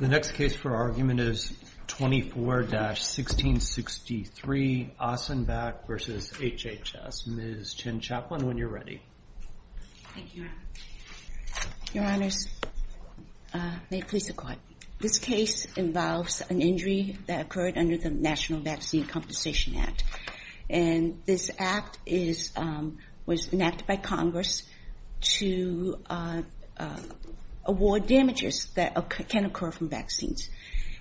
The next case for argument is 24-1663, Osenbach v. HHS. Ms. Chin-Chaplin, when you're ready. Thank you. Your Honors, may it please the Court. This case involves an injury that occurred under the National Vaccine Compensation Act. And this act was enacted by Congress to award damages that can occur from vaccines.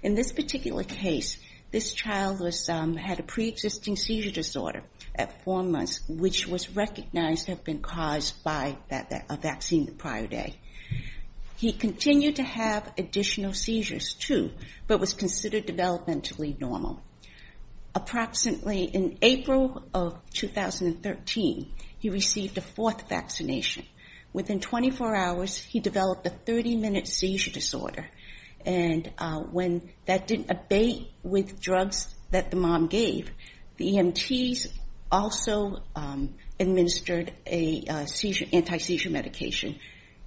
In this particular case, this child had a pre-existing seizure disorder at four months, which was recognized had been caused by a vaccine the prior day. He continued to have additional seizures, too, but was considered developmentally normal. Approximately in April of 2013, he received a fourth vaccination. Within 24 hours, he developed a 30-minute seizure disorder. And when that didn't abate with drugs that the mom gave, the EMTs also administered an anti-seizure medication.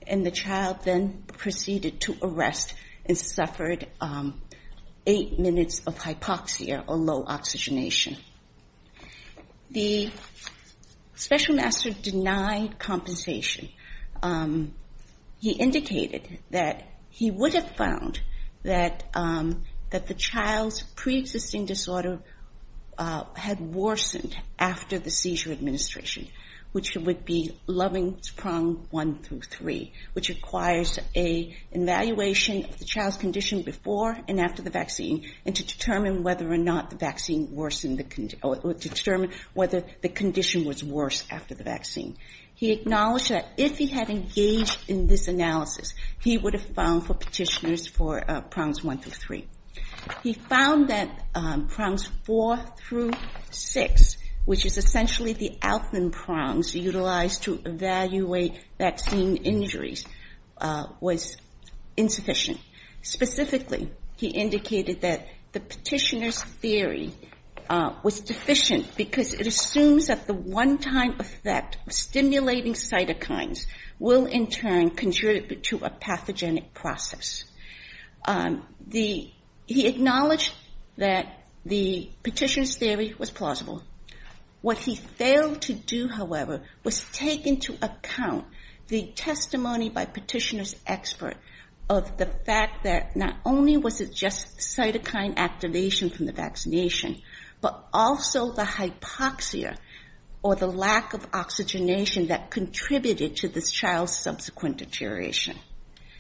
And the child then proceeded to arrest and suffered eight minutes of hypoxia, or low oxygenation. The special master denied compensation. He indicated that he would have found that the child's pre-existing disorder had worsened after the seizure administration, which would be Loving's Prong 1 through 3, which requires an evaluation of the child's condition before and after the vaccine, and to determine whether or not the condition was worse after the vaccine. He acknowledged that if he had engaged in this analysis, he would have found for petitioners for Prongs 1 through 3. He found that Prongs 4 through 6, which is essentially the Alvin Prongs utilized to evaluate vaccine injuries, was insufficient. Specifically, he indicated that the petitioner's theory was deficient, because it assumes that the one-time effect of stimulating cytokines will, in turn, contribute to a pathogenic process. He acknowledged that the petitioner's theory was plausible. What he failed to do, however, was take into account the testimony by petitioner's expert of the fact that not only was it just cytokine activation from the vaccination, but also the hypoxia, or the lack of oxygenation, that contributed to this child's subsequent deterioration.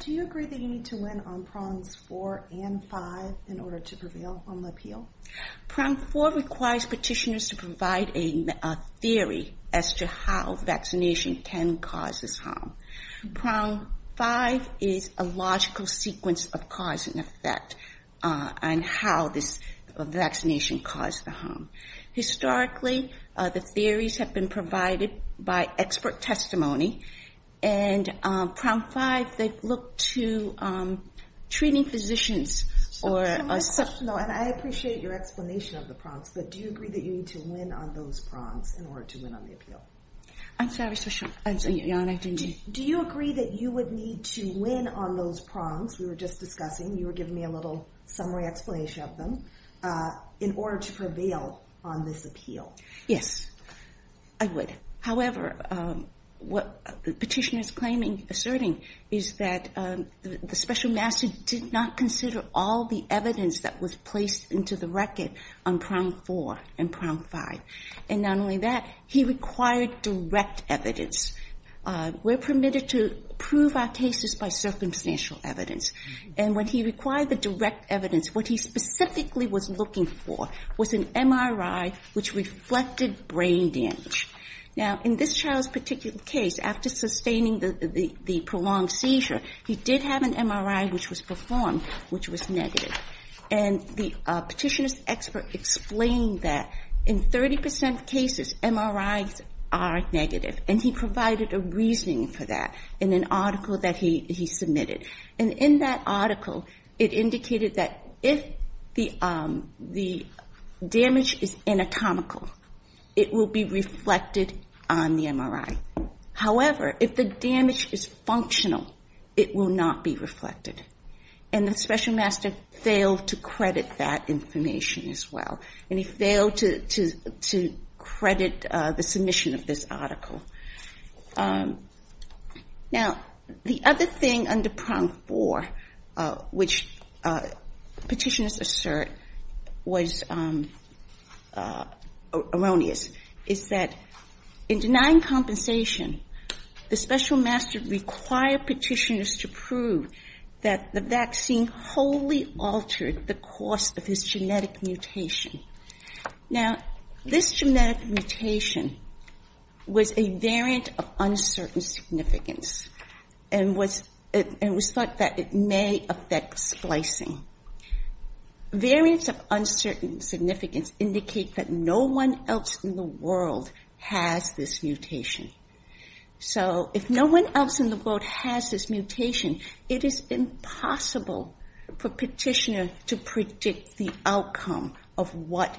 Do you agree that you need to win on Prongs 4 and 5 in order to prevail on the appeal? Prong 4 requires petitioners to provide a theory as to how vaccination can cause this harm. Prong 5 is a logical sequence of cause and effect on how this vaccination caused the harm. Historically, the theories have been provided by expert testimony. And Prong 5, they've looked to treating physicians or a substitute. So one question, though, and I appreciate your explanation of the Prongs, but do you agree that you need to win on those Prongs in order to win on the appeal? I'm sorry, sorry. I'm sorry, Jan, I didn't hear. Do you agree that you would need to win on those Prongs we were just discussing, you were giving me a little summary explanation of them, in order to prevail on this appeal? Yes, I would. However, what the petitioner is claiming, asserting, is that the special master did not consider all the evidence that was placed into the record on Prong 4 and Prong 5. And not only that, he required direct evidence. We're permitted to prove our cases by circumstantial evidence. And when he required the direct evidence, what he specifically was looking for was an MRI which reflected brain damage. Now, in this child's particular case, after sustaining the prolonged seizure, he did have an MRI which was performed, which was negative. And the petitioner's expert explained that in 30% of cases, MRIs are negative. And he provided a reasoning for that in an article that he submitted. And in that article, it indicated that if the damage is anatomical, it will be reflected on the MRI. However, if the damage is functional, it will not be reflected. And the special master failed to credit that information as well. And he failed to credit the submission of this article. Now, the other thing under Prong 4, which petitioners assert was erroneous, is that in denying compensation, the special master required petitioners to prove that the vaccine wholly altered the course of his genetic mutation. Now, this genetic mutation was a variant of uncertain significance and was thought that it may affect splicing. Variants of uncertain significance indicate that no one else in the world has this mutation. So if no one else in the world has this mutation, it is impossible for a petitioner to predict the outcome of what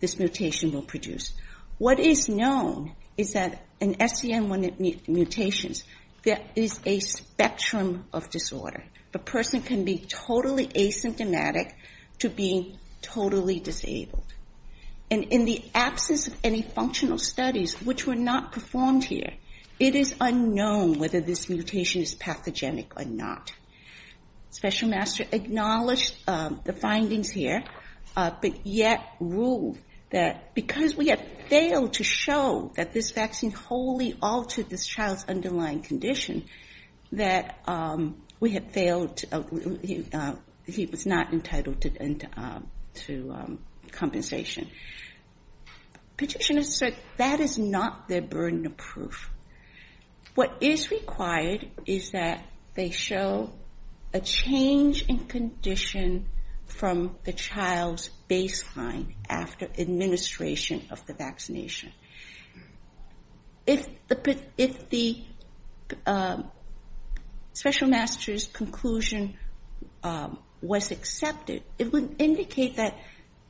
this mutation will produce. What is known is that in SCN1 mutations, there is a spectrum of disorder. The person can be totally asymptomatic to being totally disabled. And in the absence of any functional studies, which were not performed here, it is unknown whether this mutation is pathogenic or not. Special master acknowledged the findings here, but yet ruled that because we have failed to show that this vaccine wholly altered this child's underlying condition, that he was not entitled to compensation. Petitioners assert that is not their burden of proof. What is required is that they show a change in condition from the child's baseline after administration of the vaccination. If the special master's conclusion was accepted, it would indicate that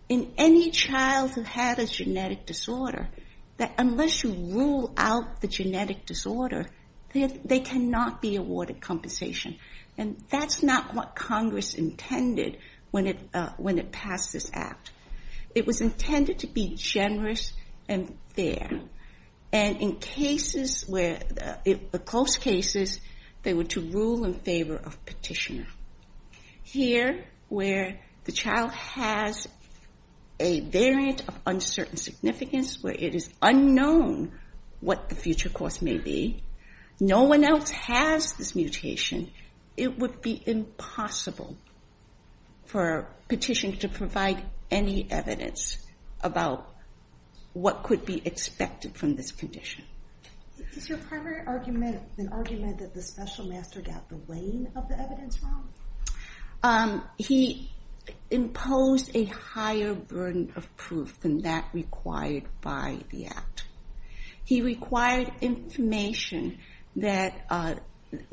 in any child who had a genetic disorder, that unless you rule out the genetic disorder, they cannot be awarded compensation. And that's not what Congress intended when it passed this act. It was intended to be generous and fair. And in close cases, they were to rule in favor of petitioner. Here, where the child has a variant of uncertain significance, where it is unknown what the future course may be, no one else has this mutation, it would be impossible for a petition to provide any evidence about what could be expected from this condition. Is your primary argument an argument that the special master got the weight of the evidence wrong? He imposed a higher burden of proof than that required by the act. He required information that,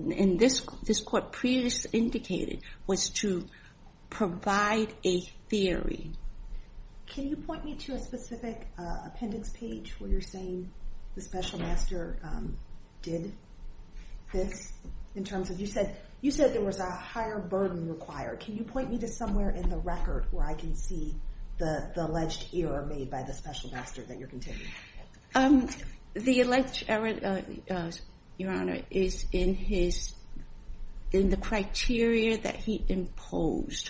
in this court previously indicated, was to provide a theory. Can you point me to a specific appendix page where you're saying the special master did this? In terms of, you said there was a higher burden required. Can you point me to somewhere in the record where I can see the alleged error made by the special master that you're contending? The alleged error, Your Honor, is in the criteria that he imposed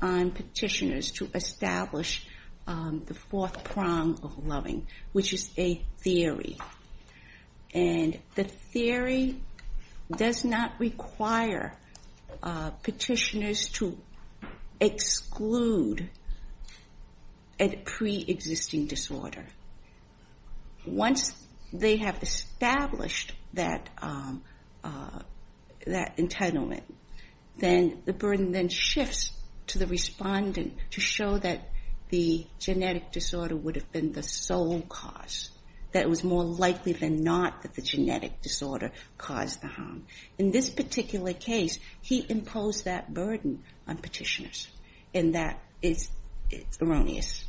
on petitioners to establish the fourth prong of loving, which is a theory. And the theory does not require petitioners to exclude a pre-existing disorder. Once they have established that entitlement, then the burden then shifts to the respondent to show that the genetic disorder would have been the sole cause, that it was more likely than not that the genetic disorder caused the harm. In this particular case, he imposed that burden on petitioners. And that is erroneous.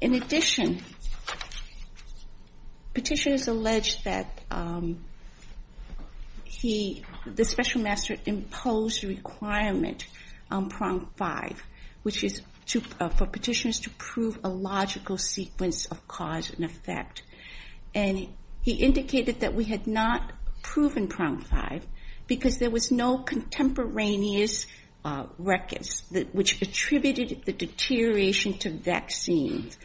In addition, petitioners allege that the special master imposed a requirement on prong five, which is for petitioners to prove a logical sequence of cause and effect. And he indicated that we had not proven prong five, because there was no contemporaneous records which attributed the deterioration to vaccines,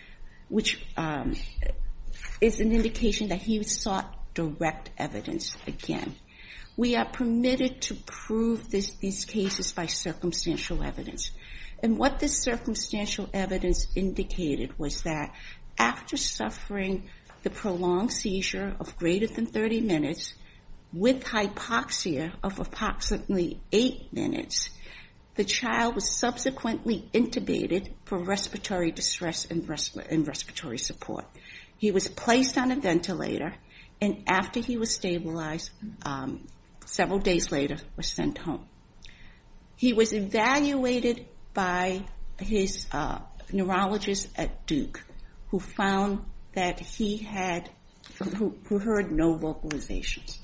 which is an indication that he sought direct evidence again. We are permitted to prove these cases by circumstantial evidence. And what this circumstantial evidence indicated was that after suffering the prolonged seizure of greater than 30 minutes with hypoxia of approximately eight minutes, the child was subsequently intubated for respiratory distress and respiratory support. He was placed on a ventilator. And after he was stabilized, several days later, was sent home. He was evaluated by his neurologist at Duke, who found that he heard no vocalizations.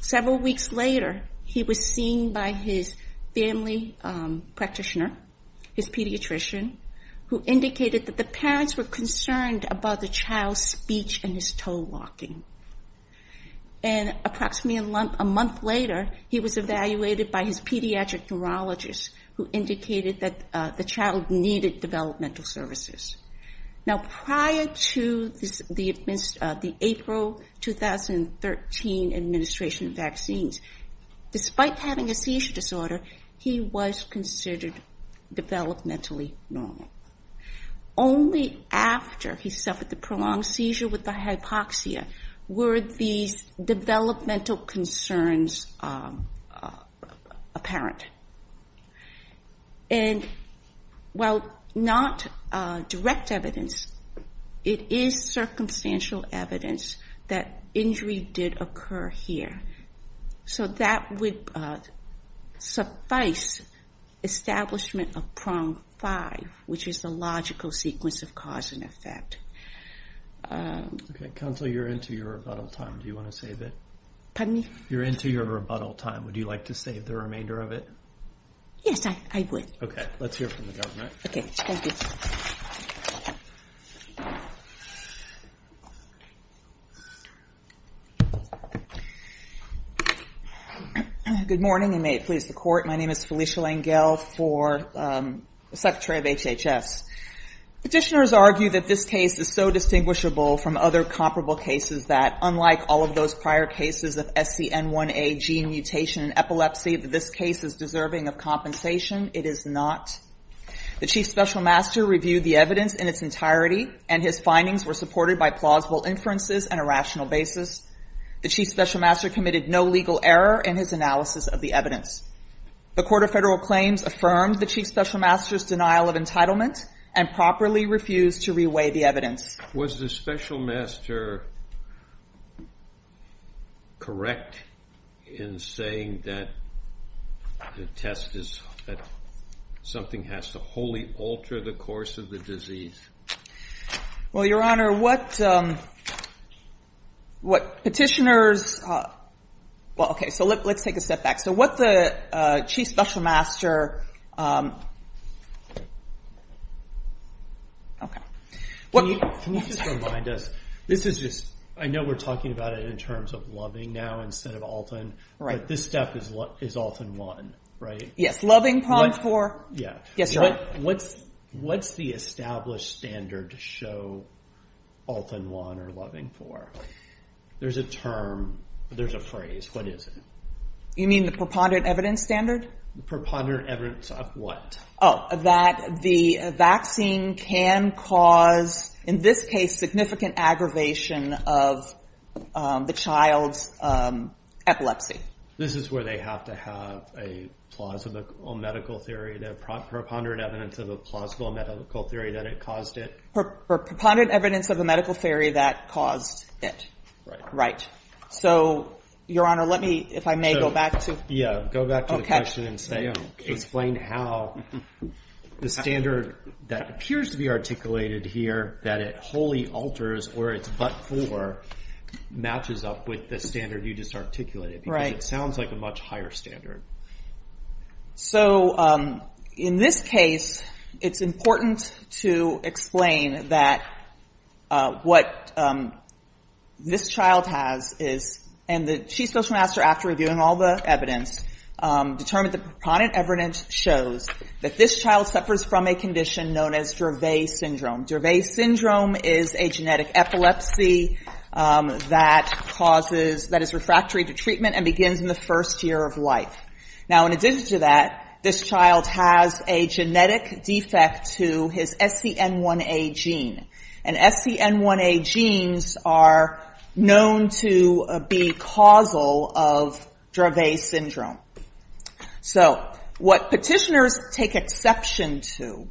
Several weeks later, he was seen by his family practitioner, his pediatrician, who indicated that the parents were concerned about the child's speech and his toe walking. And approximately a month later, he was evaluated by his pediatric neurologist, who indicated that the child needed developmental services. Now, prior to the April 2013 administration of vaccines, despite having a seizure disorder, he was considered developmentally normal. Only after he suffered the prolonged seizure with the hypoxia were these developmental concerns apparent. And while not direct evidence, it is circumstantial evidence that injury did occur here. So that would suffice establishment of prong five, which is the logical sequence of cause and effect. OK, Counsel, you're into your rebuttal time. Do you want to save it? Pardon me? You're into your rebuttal time. Would you like to save the remainder of it? Yes, I would. OK, let's hear from the government. OK, thank you. Good morning, and may it please the court. My name is Felicia Langell for the Secretary of HHS. Petitioners argue that this case is so distinguishable from other comparable cases that, unlike all of those prior cases of SCN1A gene mutation and epilepsy, that this case is deserving of compensation. It is not. The Chief Special Master reviewed the evidence in its entirety, and his findings were supported by plausible inferences and a rational basis. The Chief Special Master committed no legal error in his analysis of the evidence. The Court of Federal Claims affirmed the Chief Special Master's denial of entitlement and properly refused to reweigh the evidence. Was the Special Master correct in saying that the test is that something has to wholly alter the course of the disease? Well, Your Honor, what petitioners, well, OK, so let's take a step back. So what the Chief Special Master, OK. Can you just remind us, this is just, I know we're talking about it in terms of loving now instead of Alton, but this step is Alton-1, right? Yes, loving prompt for, yes, Your Honor. What's the established standard to show Alton-1 or loving for? There's a term, there's a phrase. What is it? You mean the preponderant evidence standard? The preponderant evidence of what? Oh, that the vaccine can cause, in this case, significant aggravation of the child's epilepsy. This is where they have to have a plausible medical theory, the preponderant evidence of a plausible medical theory that it caused it? Preponderant evidence of a medical theory that caused it. Right. Right. So, Your Honor, let me, if I may, go back to. Yeah, go back to the question and explain how the standard that appears to be articulated here, that it wholly alters or it's but-for, matches up with the standard you just articulated. Because it sounds like a much higher standard. So in this case, it's important to explain that what this child has is, and the chief social master, after reviewing all the evidence, determined the preponderant evidence shows that this child suffers from a condition known as Dervais syndrome. Dervais syndrome is a genetic epilepsy that causes, that is refractory to treatment and begins in the first year of life. Now, in addition to that, this child has a genetic defect to his SCN1A gene. And SCN1A genes are known to be causal of Dervais syndrome. So what petitioners take exception to,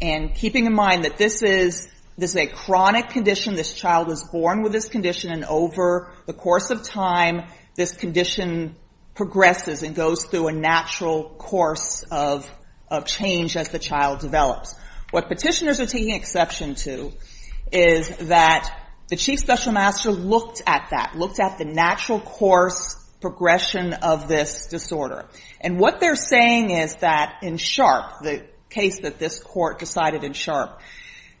and keeping in mind that this is a chronic condition, this child was born with this condition, and over the course of time, this condition progresses and goes through a natural course of change as the child develops. What petitioners are taking exception to is that the chief special master looked at that, looked at the natural course progression of this disorder. And what they're saying is that in Sharp, the case that this court decided in Sharp,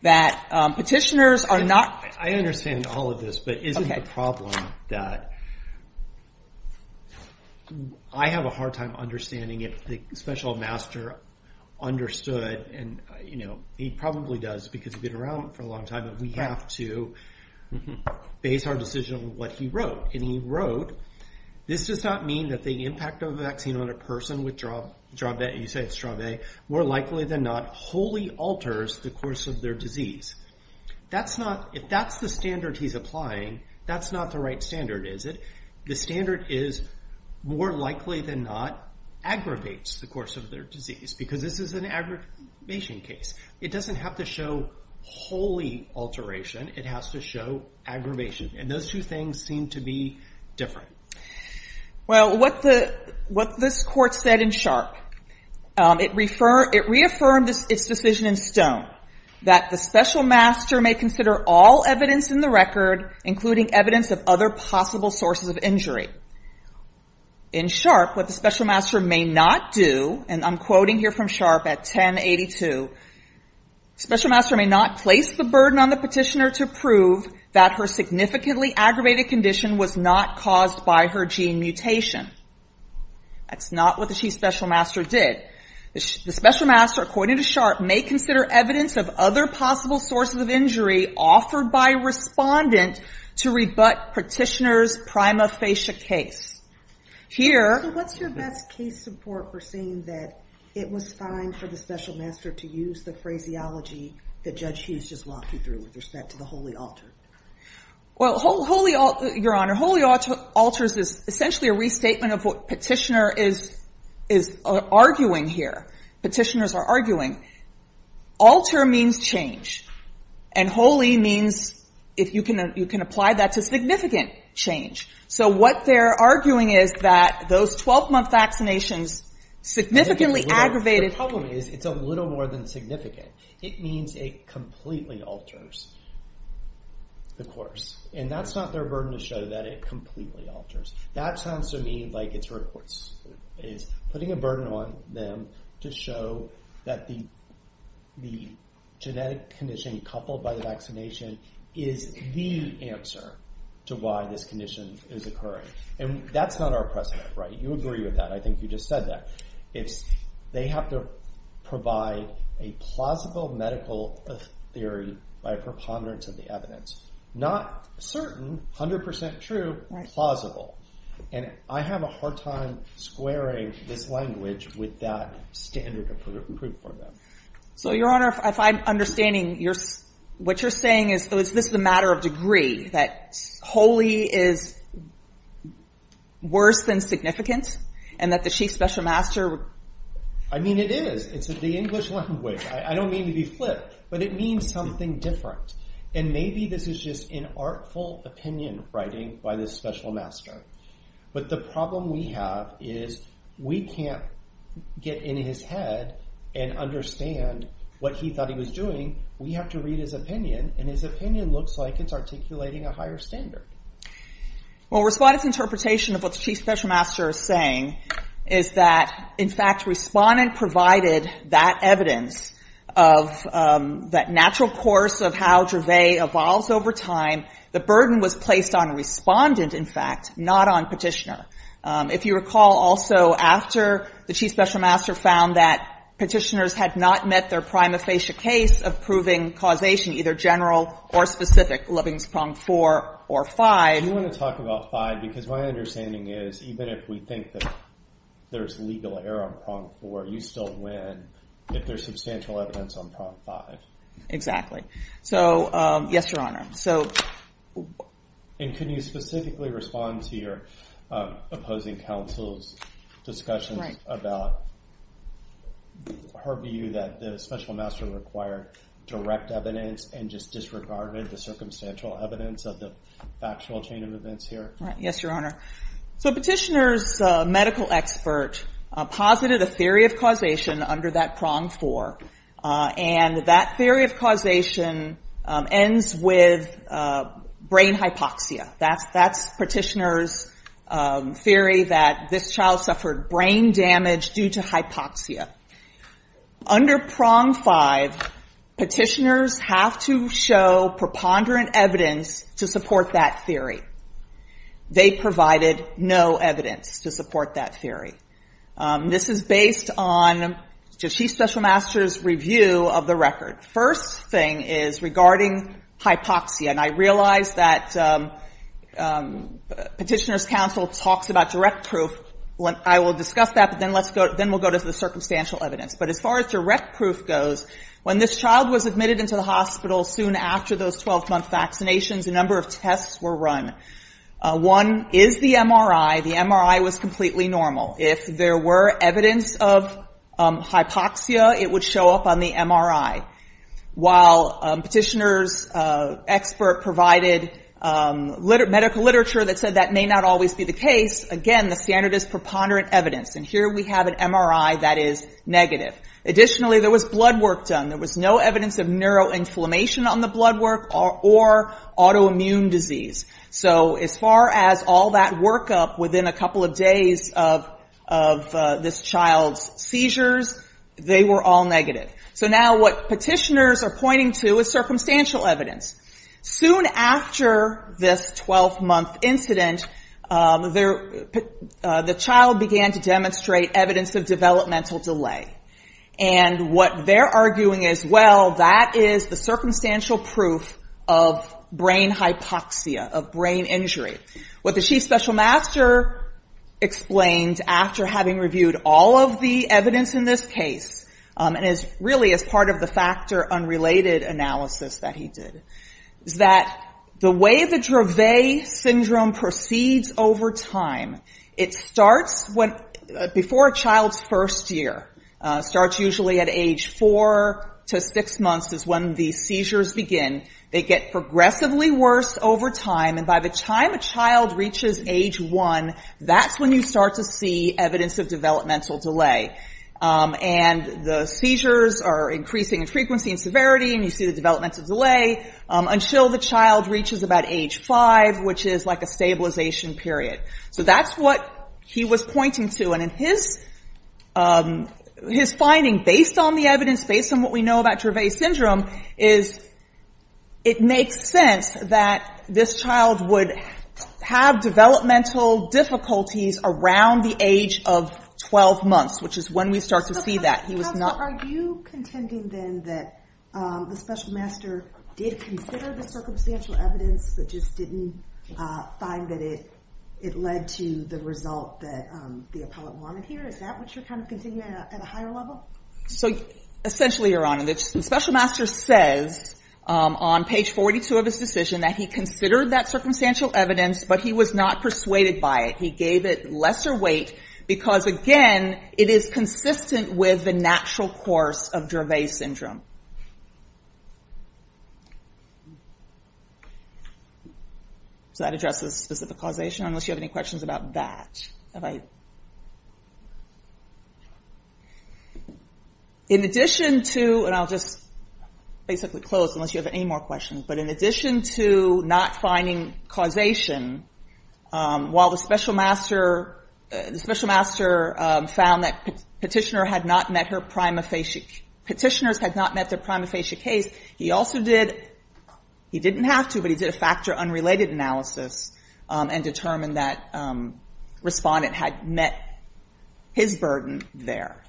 that petitioners are not. I understand all of this, but isn't the problem that I have a hard time understanding if the special master understood, and he probably does because he's been around for a long time, but we have to base our decision on what he wrote. And he wrote, this does not mean that the impact of a vaccine on a person with Dervais, you say it's Dervais, more likely than not wholly alters the course of their disease. That's not, if that's the standard he's applying, that's not the right standard, is it? The standard is, more likely than not, aggravates the course of their disease, because this is an aggravation case. It doesn't have to show wholly alteration, it has to show aggravation. And those two things seem to be different. Well, what this court said in Sharp, it reaffirmed its decision in Stone that the special master may consider all evidence in the record, including evidence of other possible sources of injury. In Sharp, what the special master may not do, and I'm quoting here from Sharp at 1082, special master may not place the burden on the petitioner to prove that her significantly aggravated condition was not caused by her gene mutation. That's not what the chief special master did. The special master, according to Sharp, may consider evidence of other possible sources of injury offered by a respondent to rebut petitioner's prima facie case. Here- So what's your best case support for saying that it was fine for the special master to use the phraseology that Judge Hughes just walked you through with respect to the wholly altered? Well, wholly altered, Your Honor, wholly altered is essentially a restatement of what petitioner is arguing here. Petitioners are arguing. Alter means change. And wholly means, if you can apply that to significant change. So what they're arguing is that those 12-month vaccinations significantly aggravated- The problem is, it's a little more than significant. It means it completely alters the course. And that's not their burden to show that it completely alters. That sounds to me like it's putting a burden on them to show that the genetic condition coupled by the vaccination is the answer to why this condition is occurring. And that's not our precedent, right? You agree with that. I think you just said that. They have to provide a plausible medical theory by preponderance of the evidence. Not certain, 100% true, plausible. And I have a hard time squaring this language with that standard of proof for them. So, Your Honor, if I'm understanding, what you're saying is, is this a matter of degree? That wholly is worse than significant? And that the Chief Special Master- I mean, it is. It's the English language. I don't mean to be flippant, but it means something different. And maybe this is just an artful opinion writing by the Special Master. But the problem we have is, we can't get in his head and understand what he thought he was doing. We have to read his opinion, and his opinion looks like it's articulating a higher standard. Well, Respondent's interpretation of what the Chief Special Master is saying is that, in fact, Respondent provided that evidence of that natural course of how Dravet evolves over time. The burden was placed on Respondent, in fact, not on Petitioner. If you recall, also, after the Chief Special Master found that Petitioners had not met their prima facie case of proving causation, either general or specific, levings prong four or five- Do you want to talk about five? Because my understanding is, even if we think that there's legal error on prong four, you still win if there's substantial evidence on prong five. Exactly. So, yes, Your Honor. So- And can you specifically respond to your opposing counsel's discussion about her view that the Special Master required direct evidence and just disregarded the circumstantial evidence of the factual chain of events here? Right, yes, Your Honor. So, Petitioner's medical expert posited a theory of causation under that prong four, and that theory of causation ends with brain hypoxia. That's Petitioner's theory that this child suffered brain damage due to hypoxia. Under prong five, Petitioners have to show preponderant evidence to support that theory. They provided no evidence to support that theory. This is based on Jashee's Special Master's review of the record. First thing is regarding hypoxia, and I realize that Petitioner's counsel talks about direct proof. I will discuss that, but then we'll go to the circumstantial evidence. But as far as direct proof goes, when this child was admitted into the hospital soon after those 12-month vaccinations, a number of tests were run. One is the MRI. The MRI was completely normal. If there were evidence of hypoxia, it would show up on the MRI. While Petitioner's expert provided medical literature that said that may not always be the case, again, the standard is preponderant evidence, and here we have an MRI that is negative. Additionally, there was blood work done. There was no evidence of neuroinflammation on the blood work or autoimmune disease. So, as far as all that workup within a couple of days of this child's seizures, they were all negative. So now what Petitioner's are pointing to is circumstantial evidence. Soon after this 12-month incident, the child began to demonstrate evidence of developmental delay. And what they're arguing is, well, that is the circumstantial proof of brain hypoxia, of brain injury. What the Chief Special Master explained after having reviewed all of the evidence in this case, and really as part of the factor unrelated analysis that he did, is that the way the Dravet syndrome proceeds over time, it starts before a child's first year. Starts usually at age four to six months is when the seizures begin. They get progressively worse over time, and by the time a child reaches age one, that's when you start to see evidence of developmental delay. And the seizures are increasing in frequency and severity, and you see the developmental delay, until the child reaches about age five, which is like a stabilization period. So that's what he was pointing to. And his finding, based on the evidence, based on what we know about Dravet syndrome, is it makes sense that this child would have developmental difficulties around the age of 12 months, which is when we start to see that. He was not- Are you contending, then, that the Special Master did consider the circumstantial evidence, but just didn't find that it led to the result that the appellate wanted here? Is that what you're kind of contending at a higher level? So, essentially, Your Honor, the Special Master says, on page 42 of his decision, that he considered that circumstantial evidence, but he was not persuaded by it. He gave it lesser weight, because, again, it is consistent with the natural course of Dravet syndrome. So that addresses specific causation, unless you have any questions about that. Have I? In addition to, and I'll just basically close, unless you have any more questions, but in addition to not finding causation, while the Special Master found that petitioners had not met their prima facie case, he also did, he didn't have to, but he did a factor unrelated analysis, and determined that respondent had met his burden there.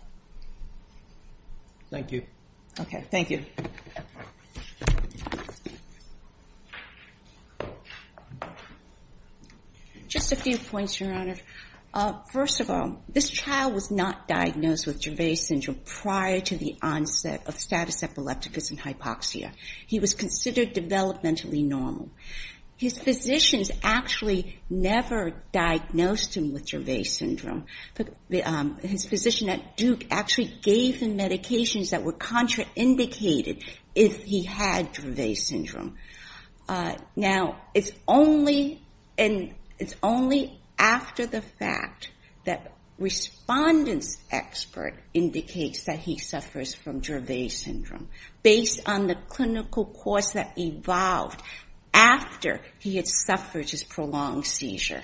Thank you. Okay, thank you. Just a few points, Your Honor. First of all, this child was not diagnosed with Dravet syndrome prior to the onset of status epilepticus and hypoxia. He was considered developmentally normal. His physicians actually never diagnosed him with Dravet syndrome. His physician at Duke actually gave him medications that were contraindicated if he had Dravet syndrome. Now, it's only after the fact that respondent's expert indicates that he suffers from Dravet syndrome, based on the clinical course that evolved after he had suffered his prolonged seizure,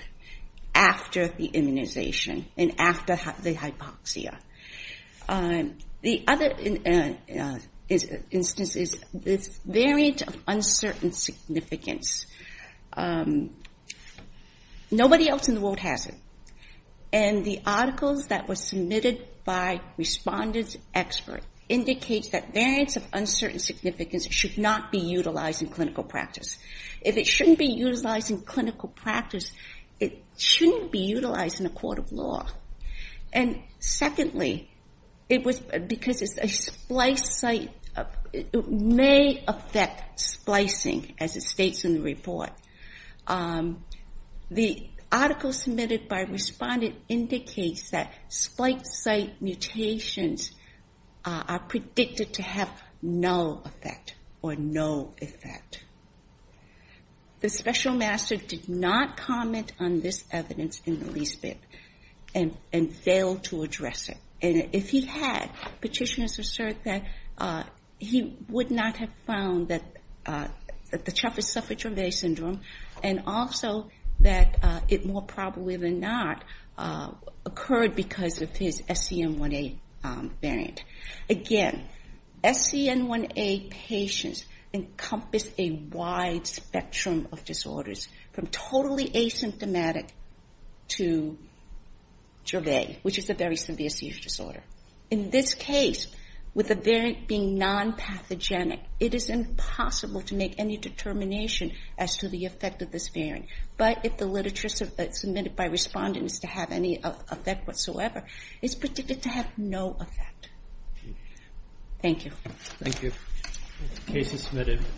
after the immunization, and after the hypoxia. The other instance is this variant of uncertain significance. Nobody else in the world has it, and the articles that were submitted by respondent's expert indicates that variants of uncertain significance should not be utilized in clinical practice. If it shouldn't be utilized in clinical practice, it shouldn't be utilized in a court of law. And secondly, because it's a splice site, it may affect splicing, as it states in the report. The article submitted by respondent indicates that splice site mutations are predicted to have no effect. The special master did not comment on this evidence in the least bit, and failed to address it. And if he had, petitioners assert that he would not have found that the chap has suffered Dravet syndrome, and also that it more probably than not occurred because of his SCN1A variant. Again, SCN1A patients encompass a wide spectrum of disorders from totally asymptomatic to Dravet, which is a very severe seizure disorder. In this case, with a variant being non-pathogenic, it is impossible to make any determination as to the effect of this variant. But if the literature submitted by respondent is to have any effect whatsoever, it's predicted to have no effect. Thank you. Thank you. Case is submitted.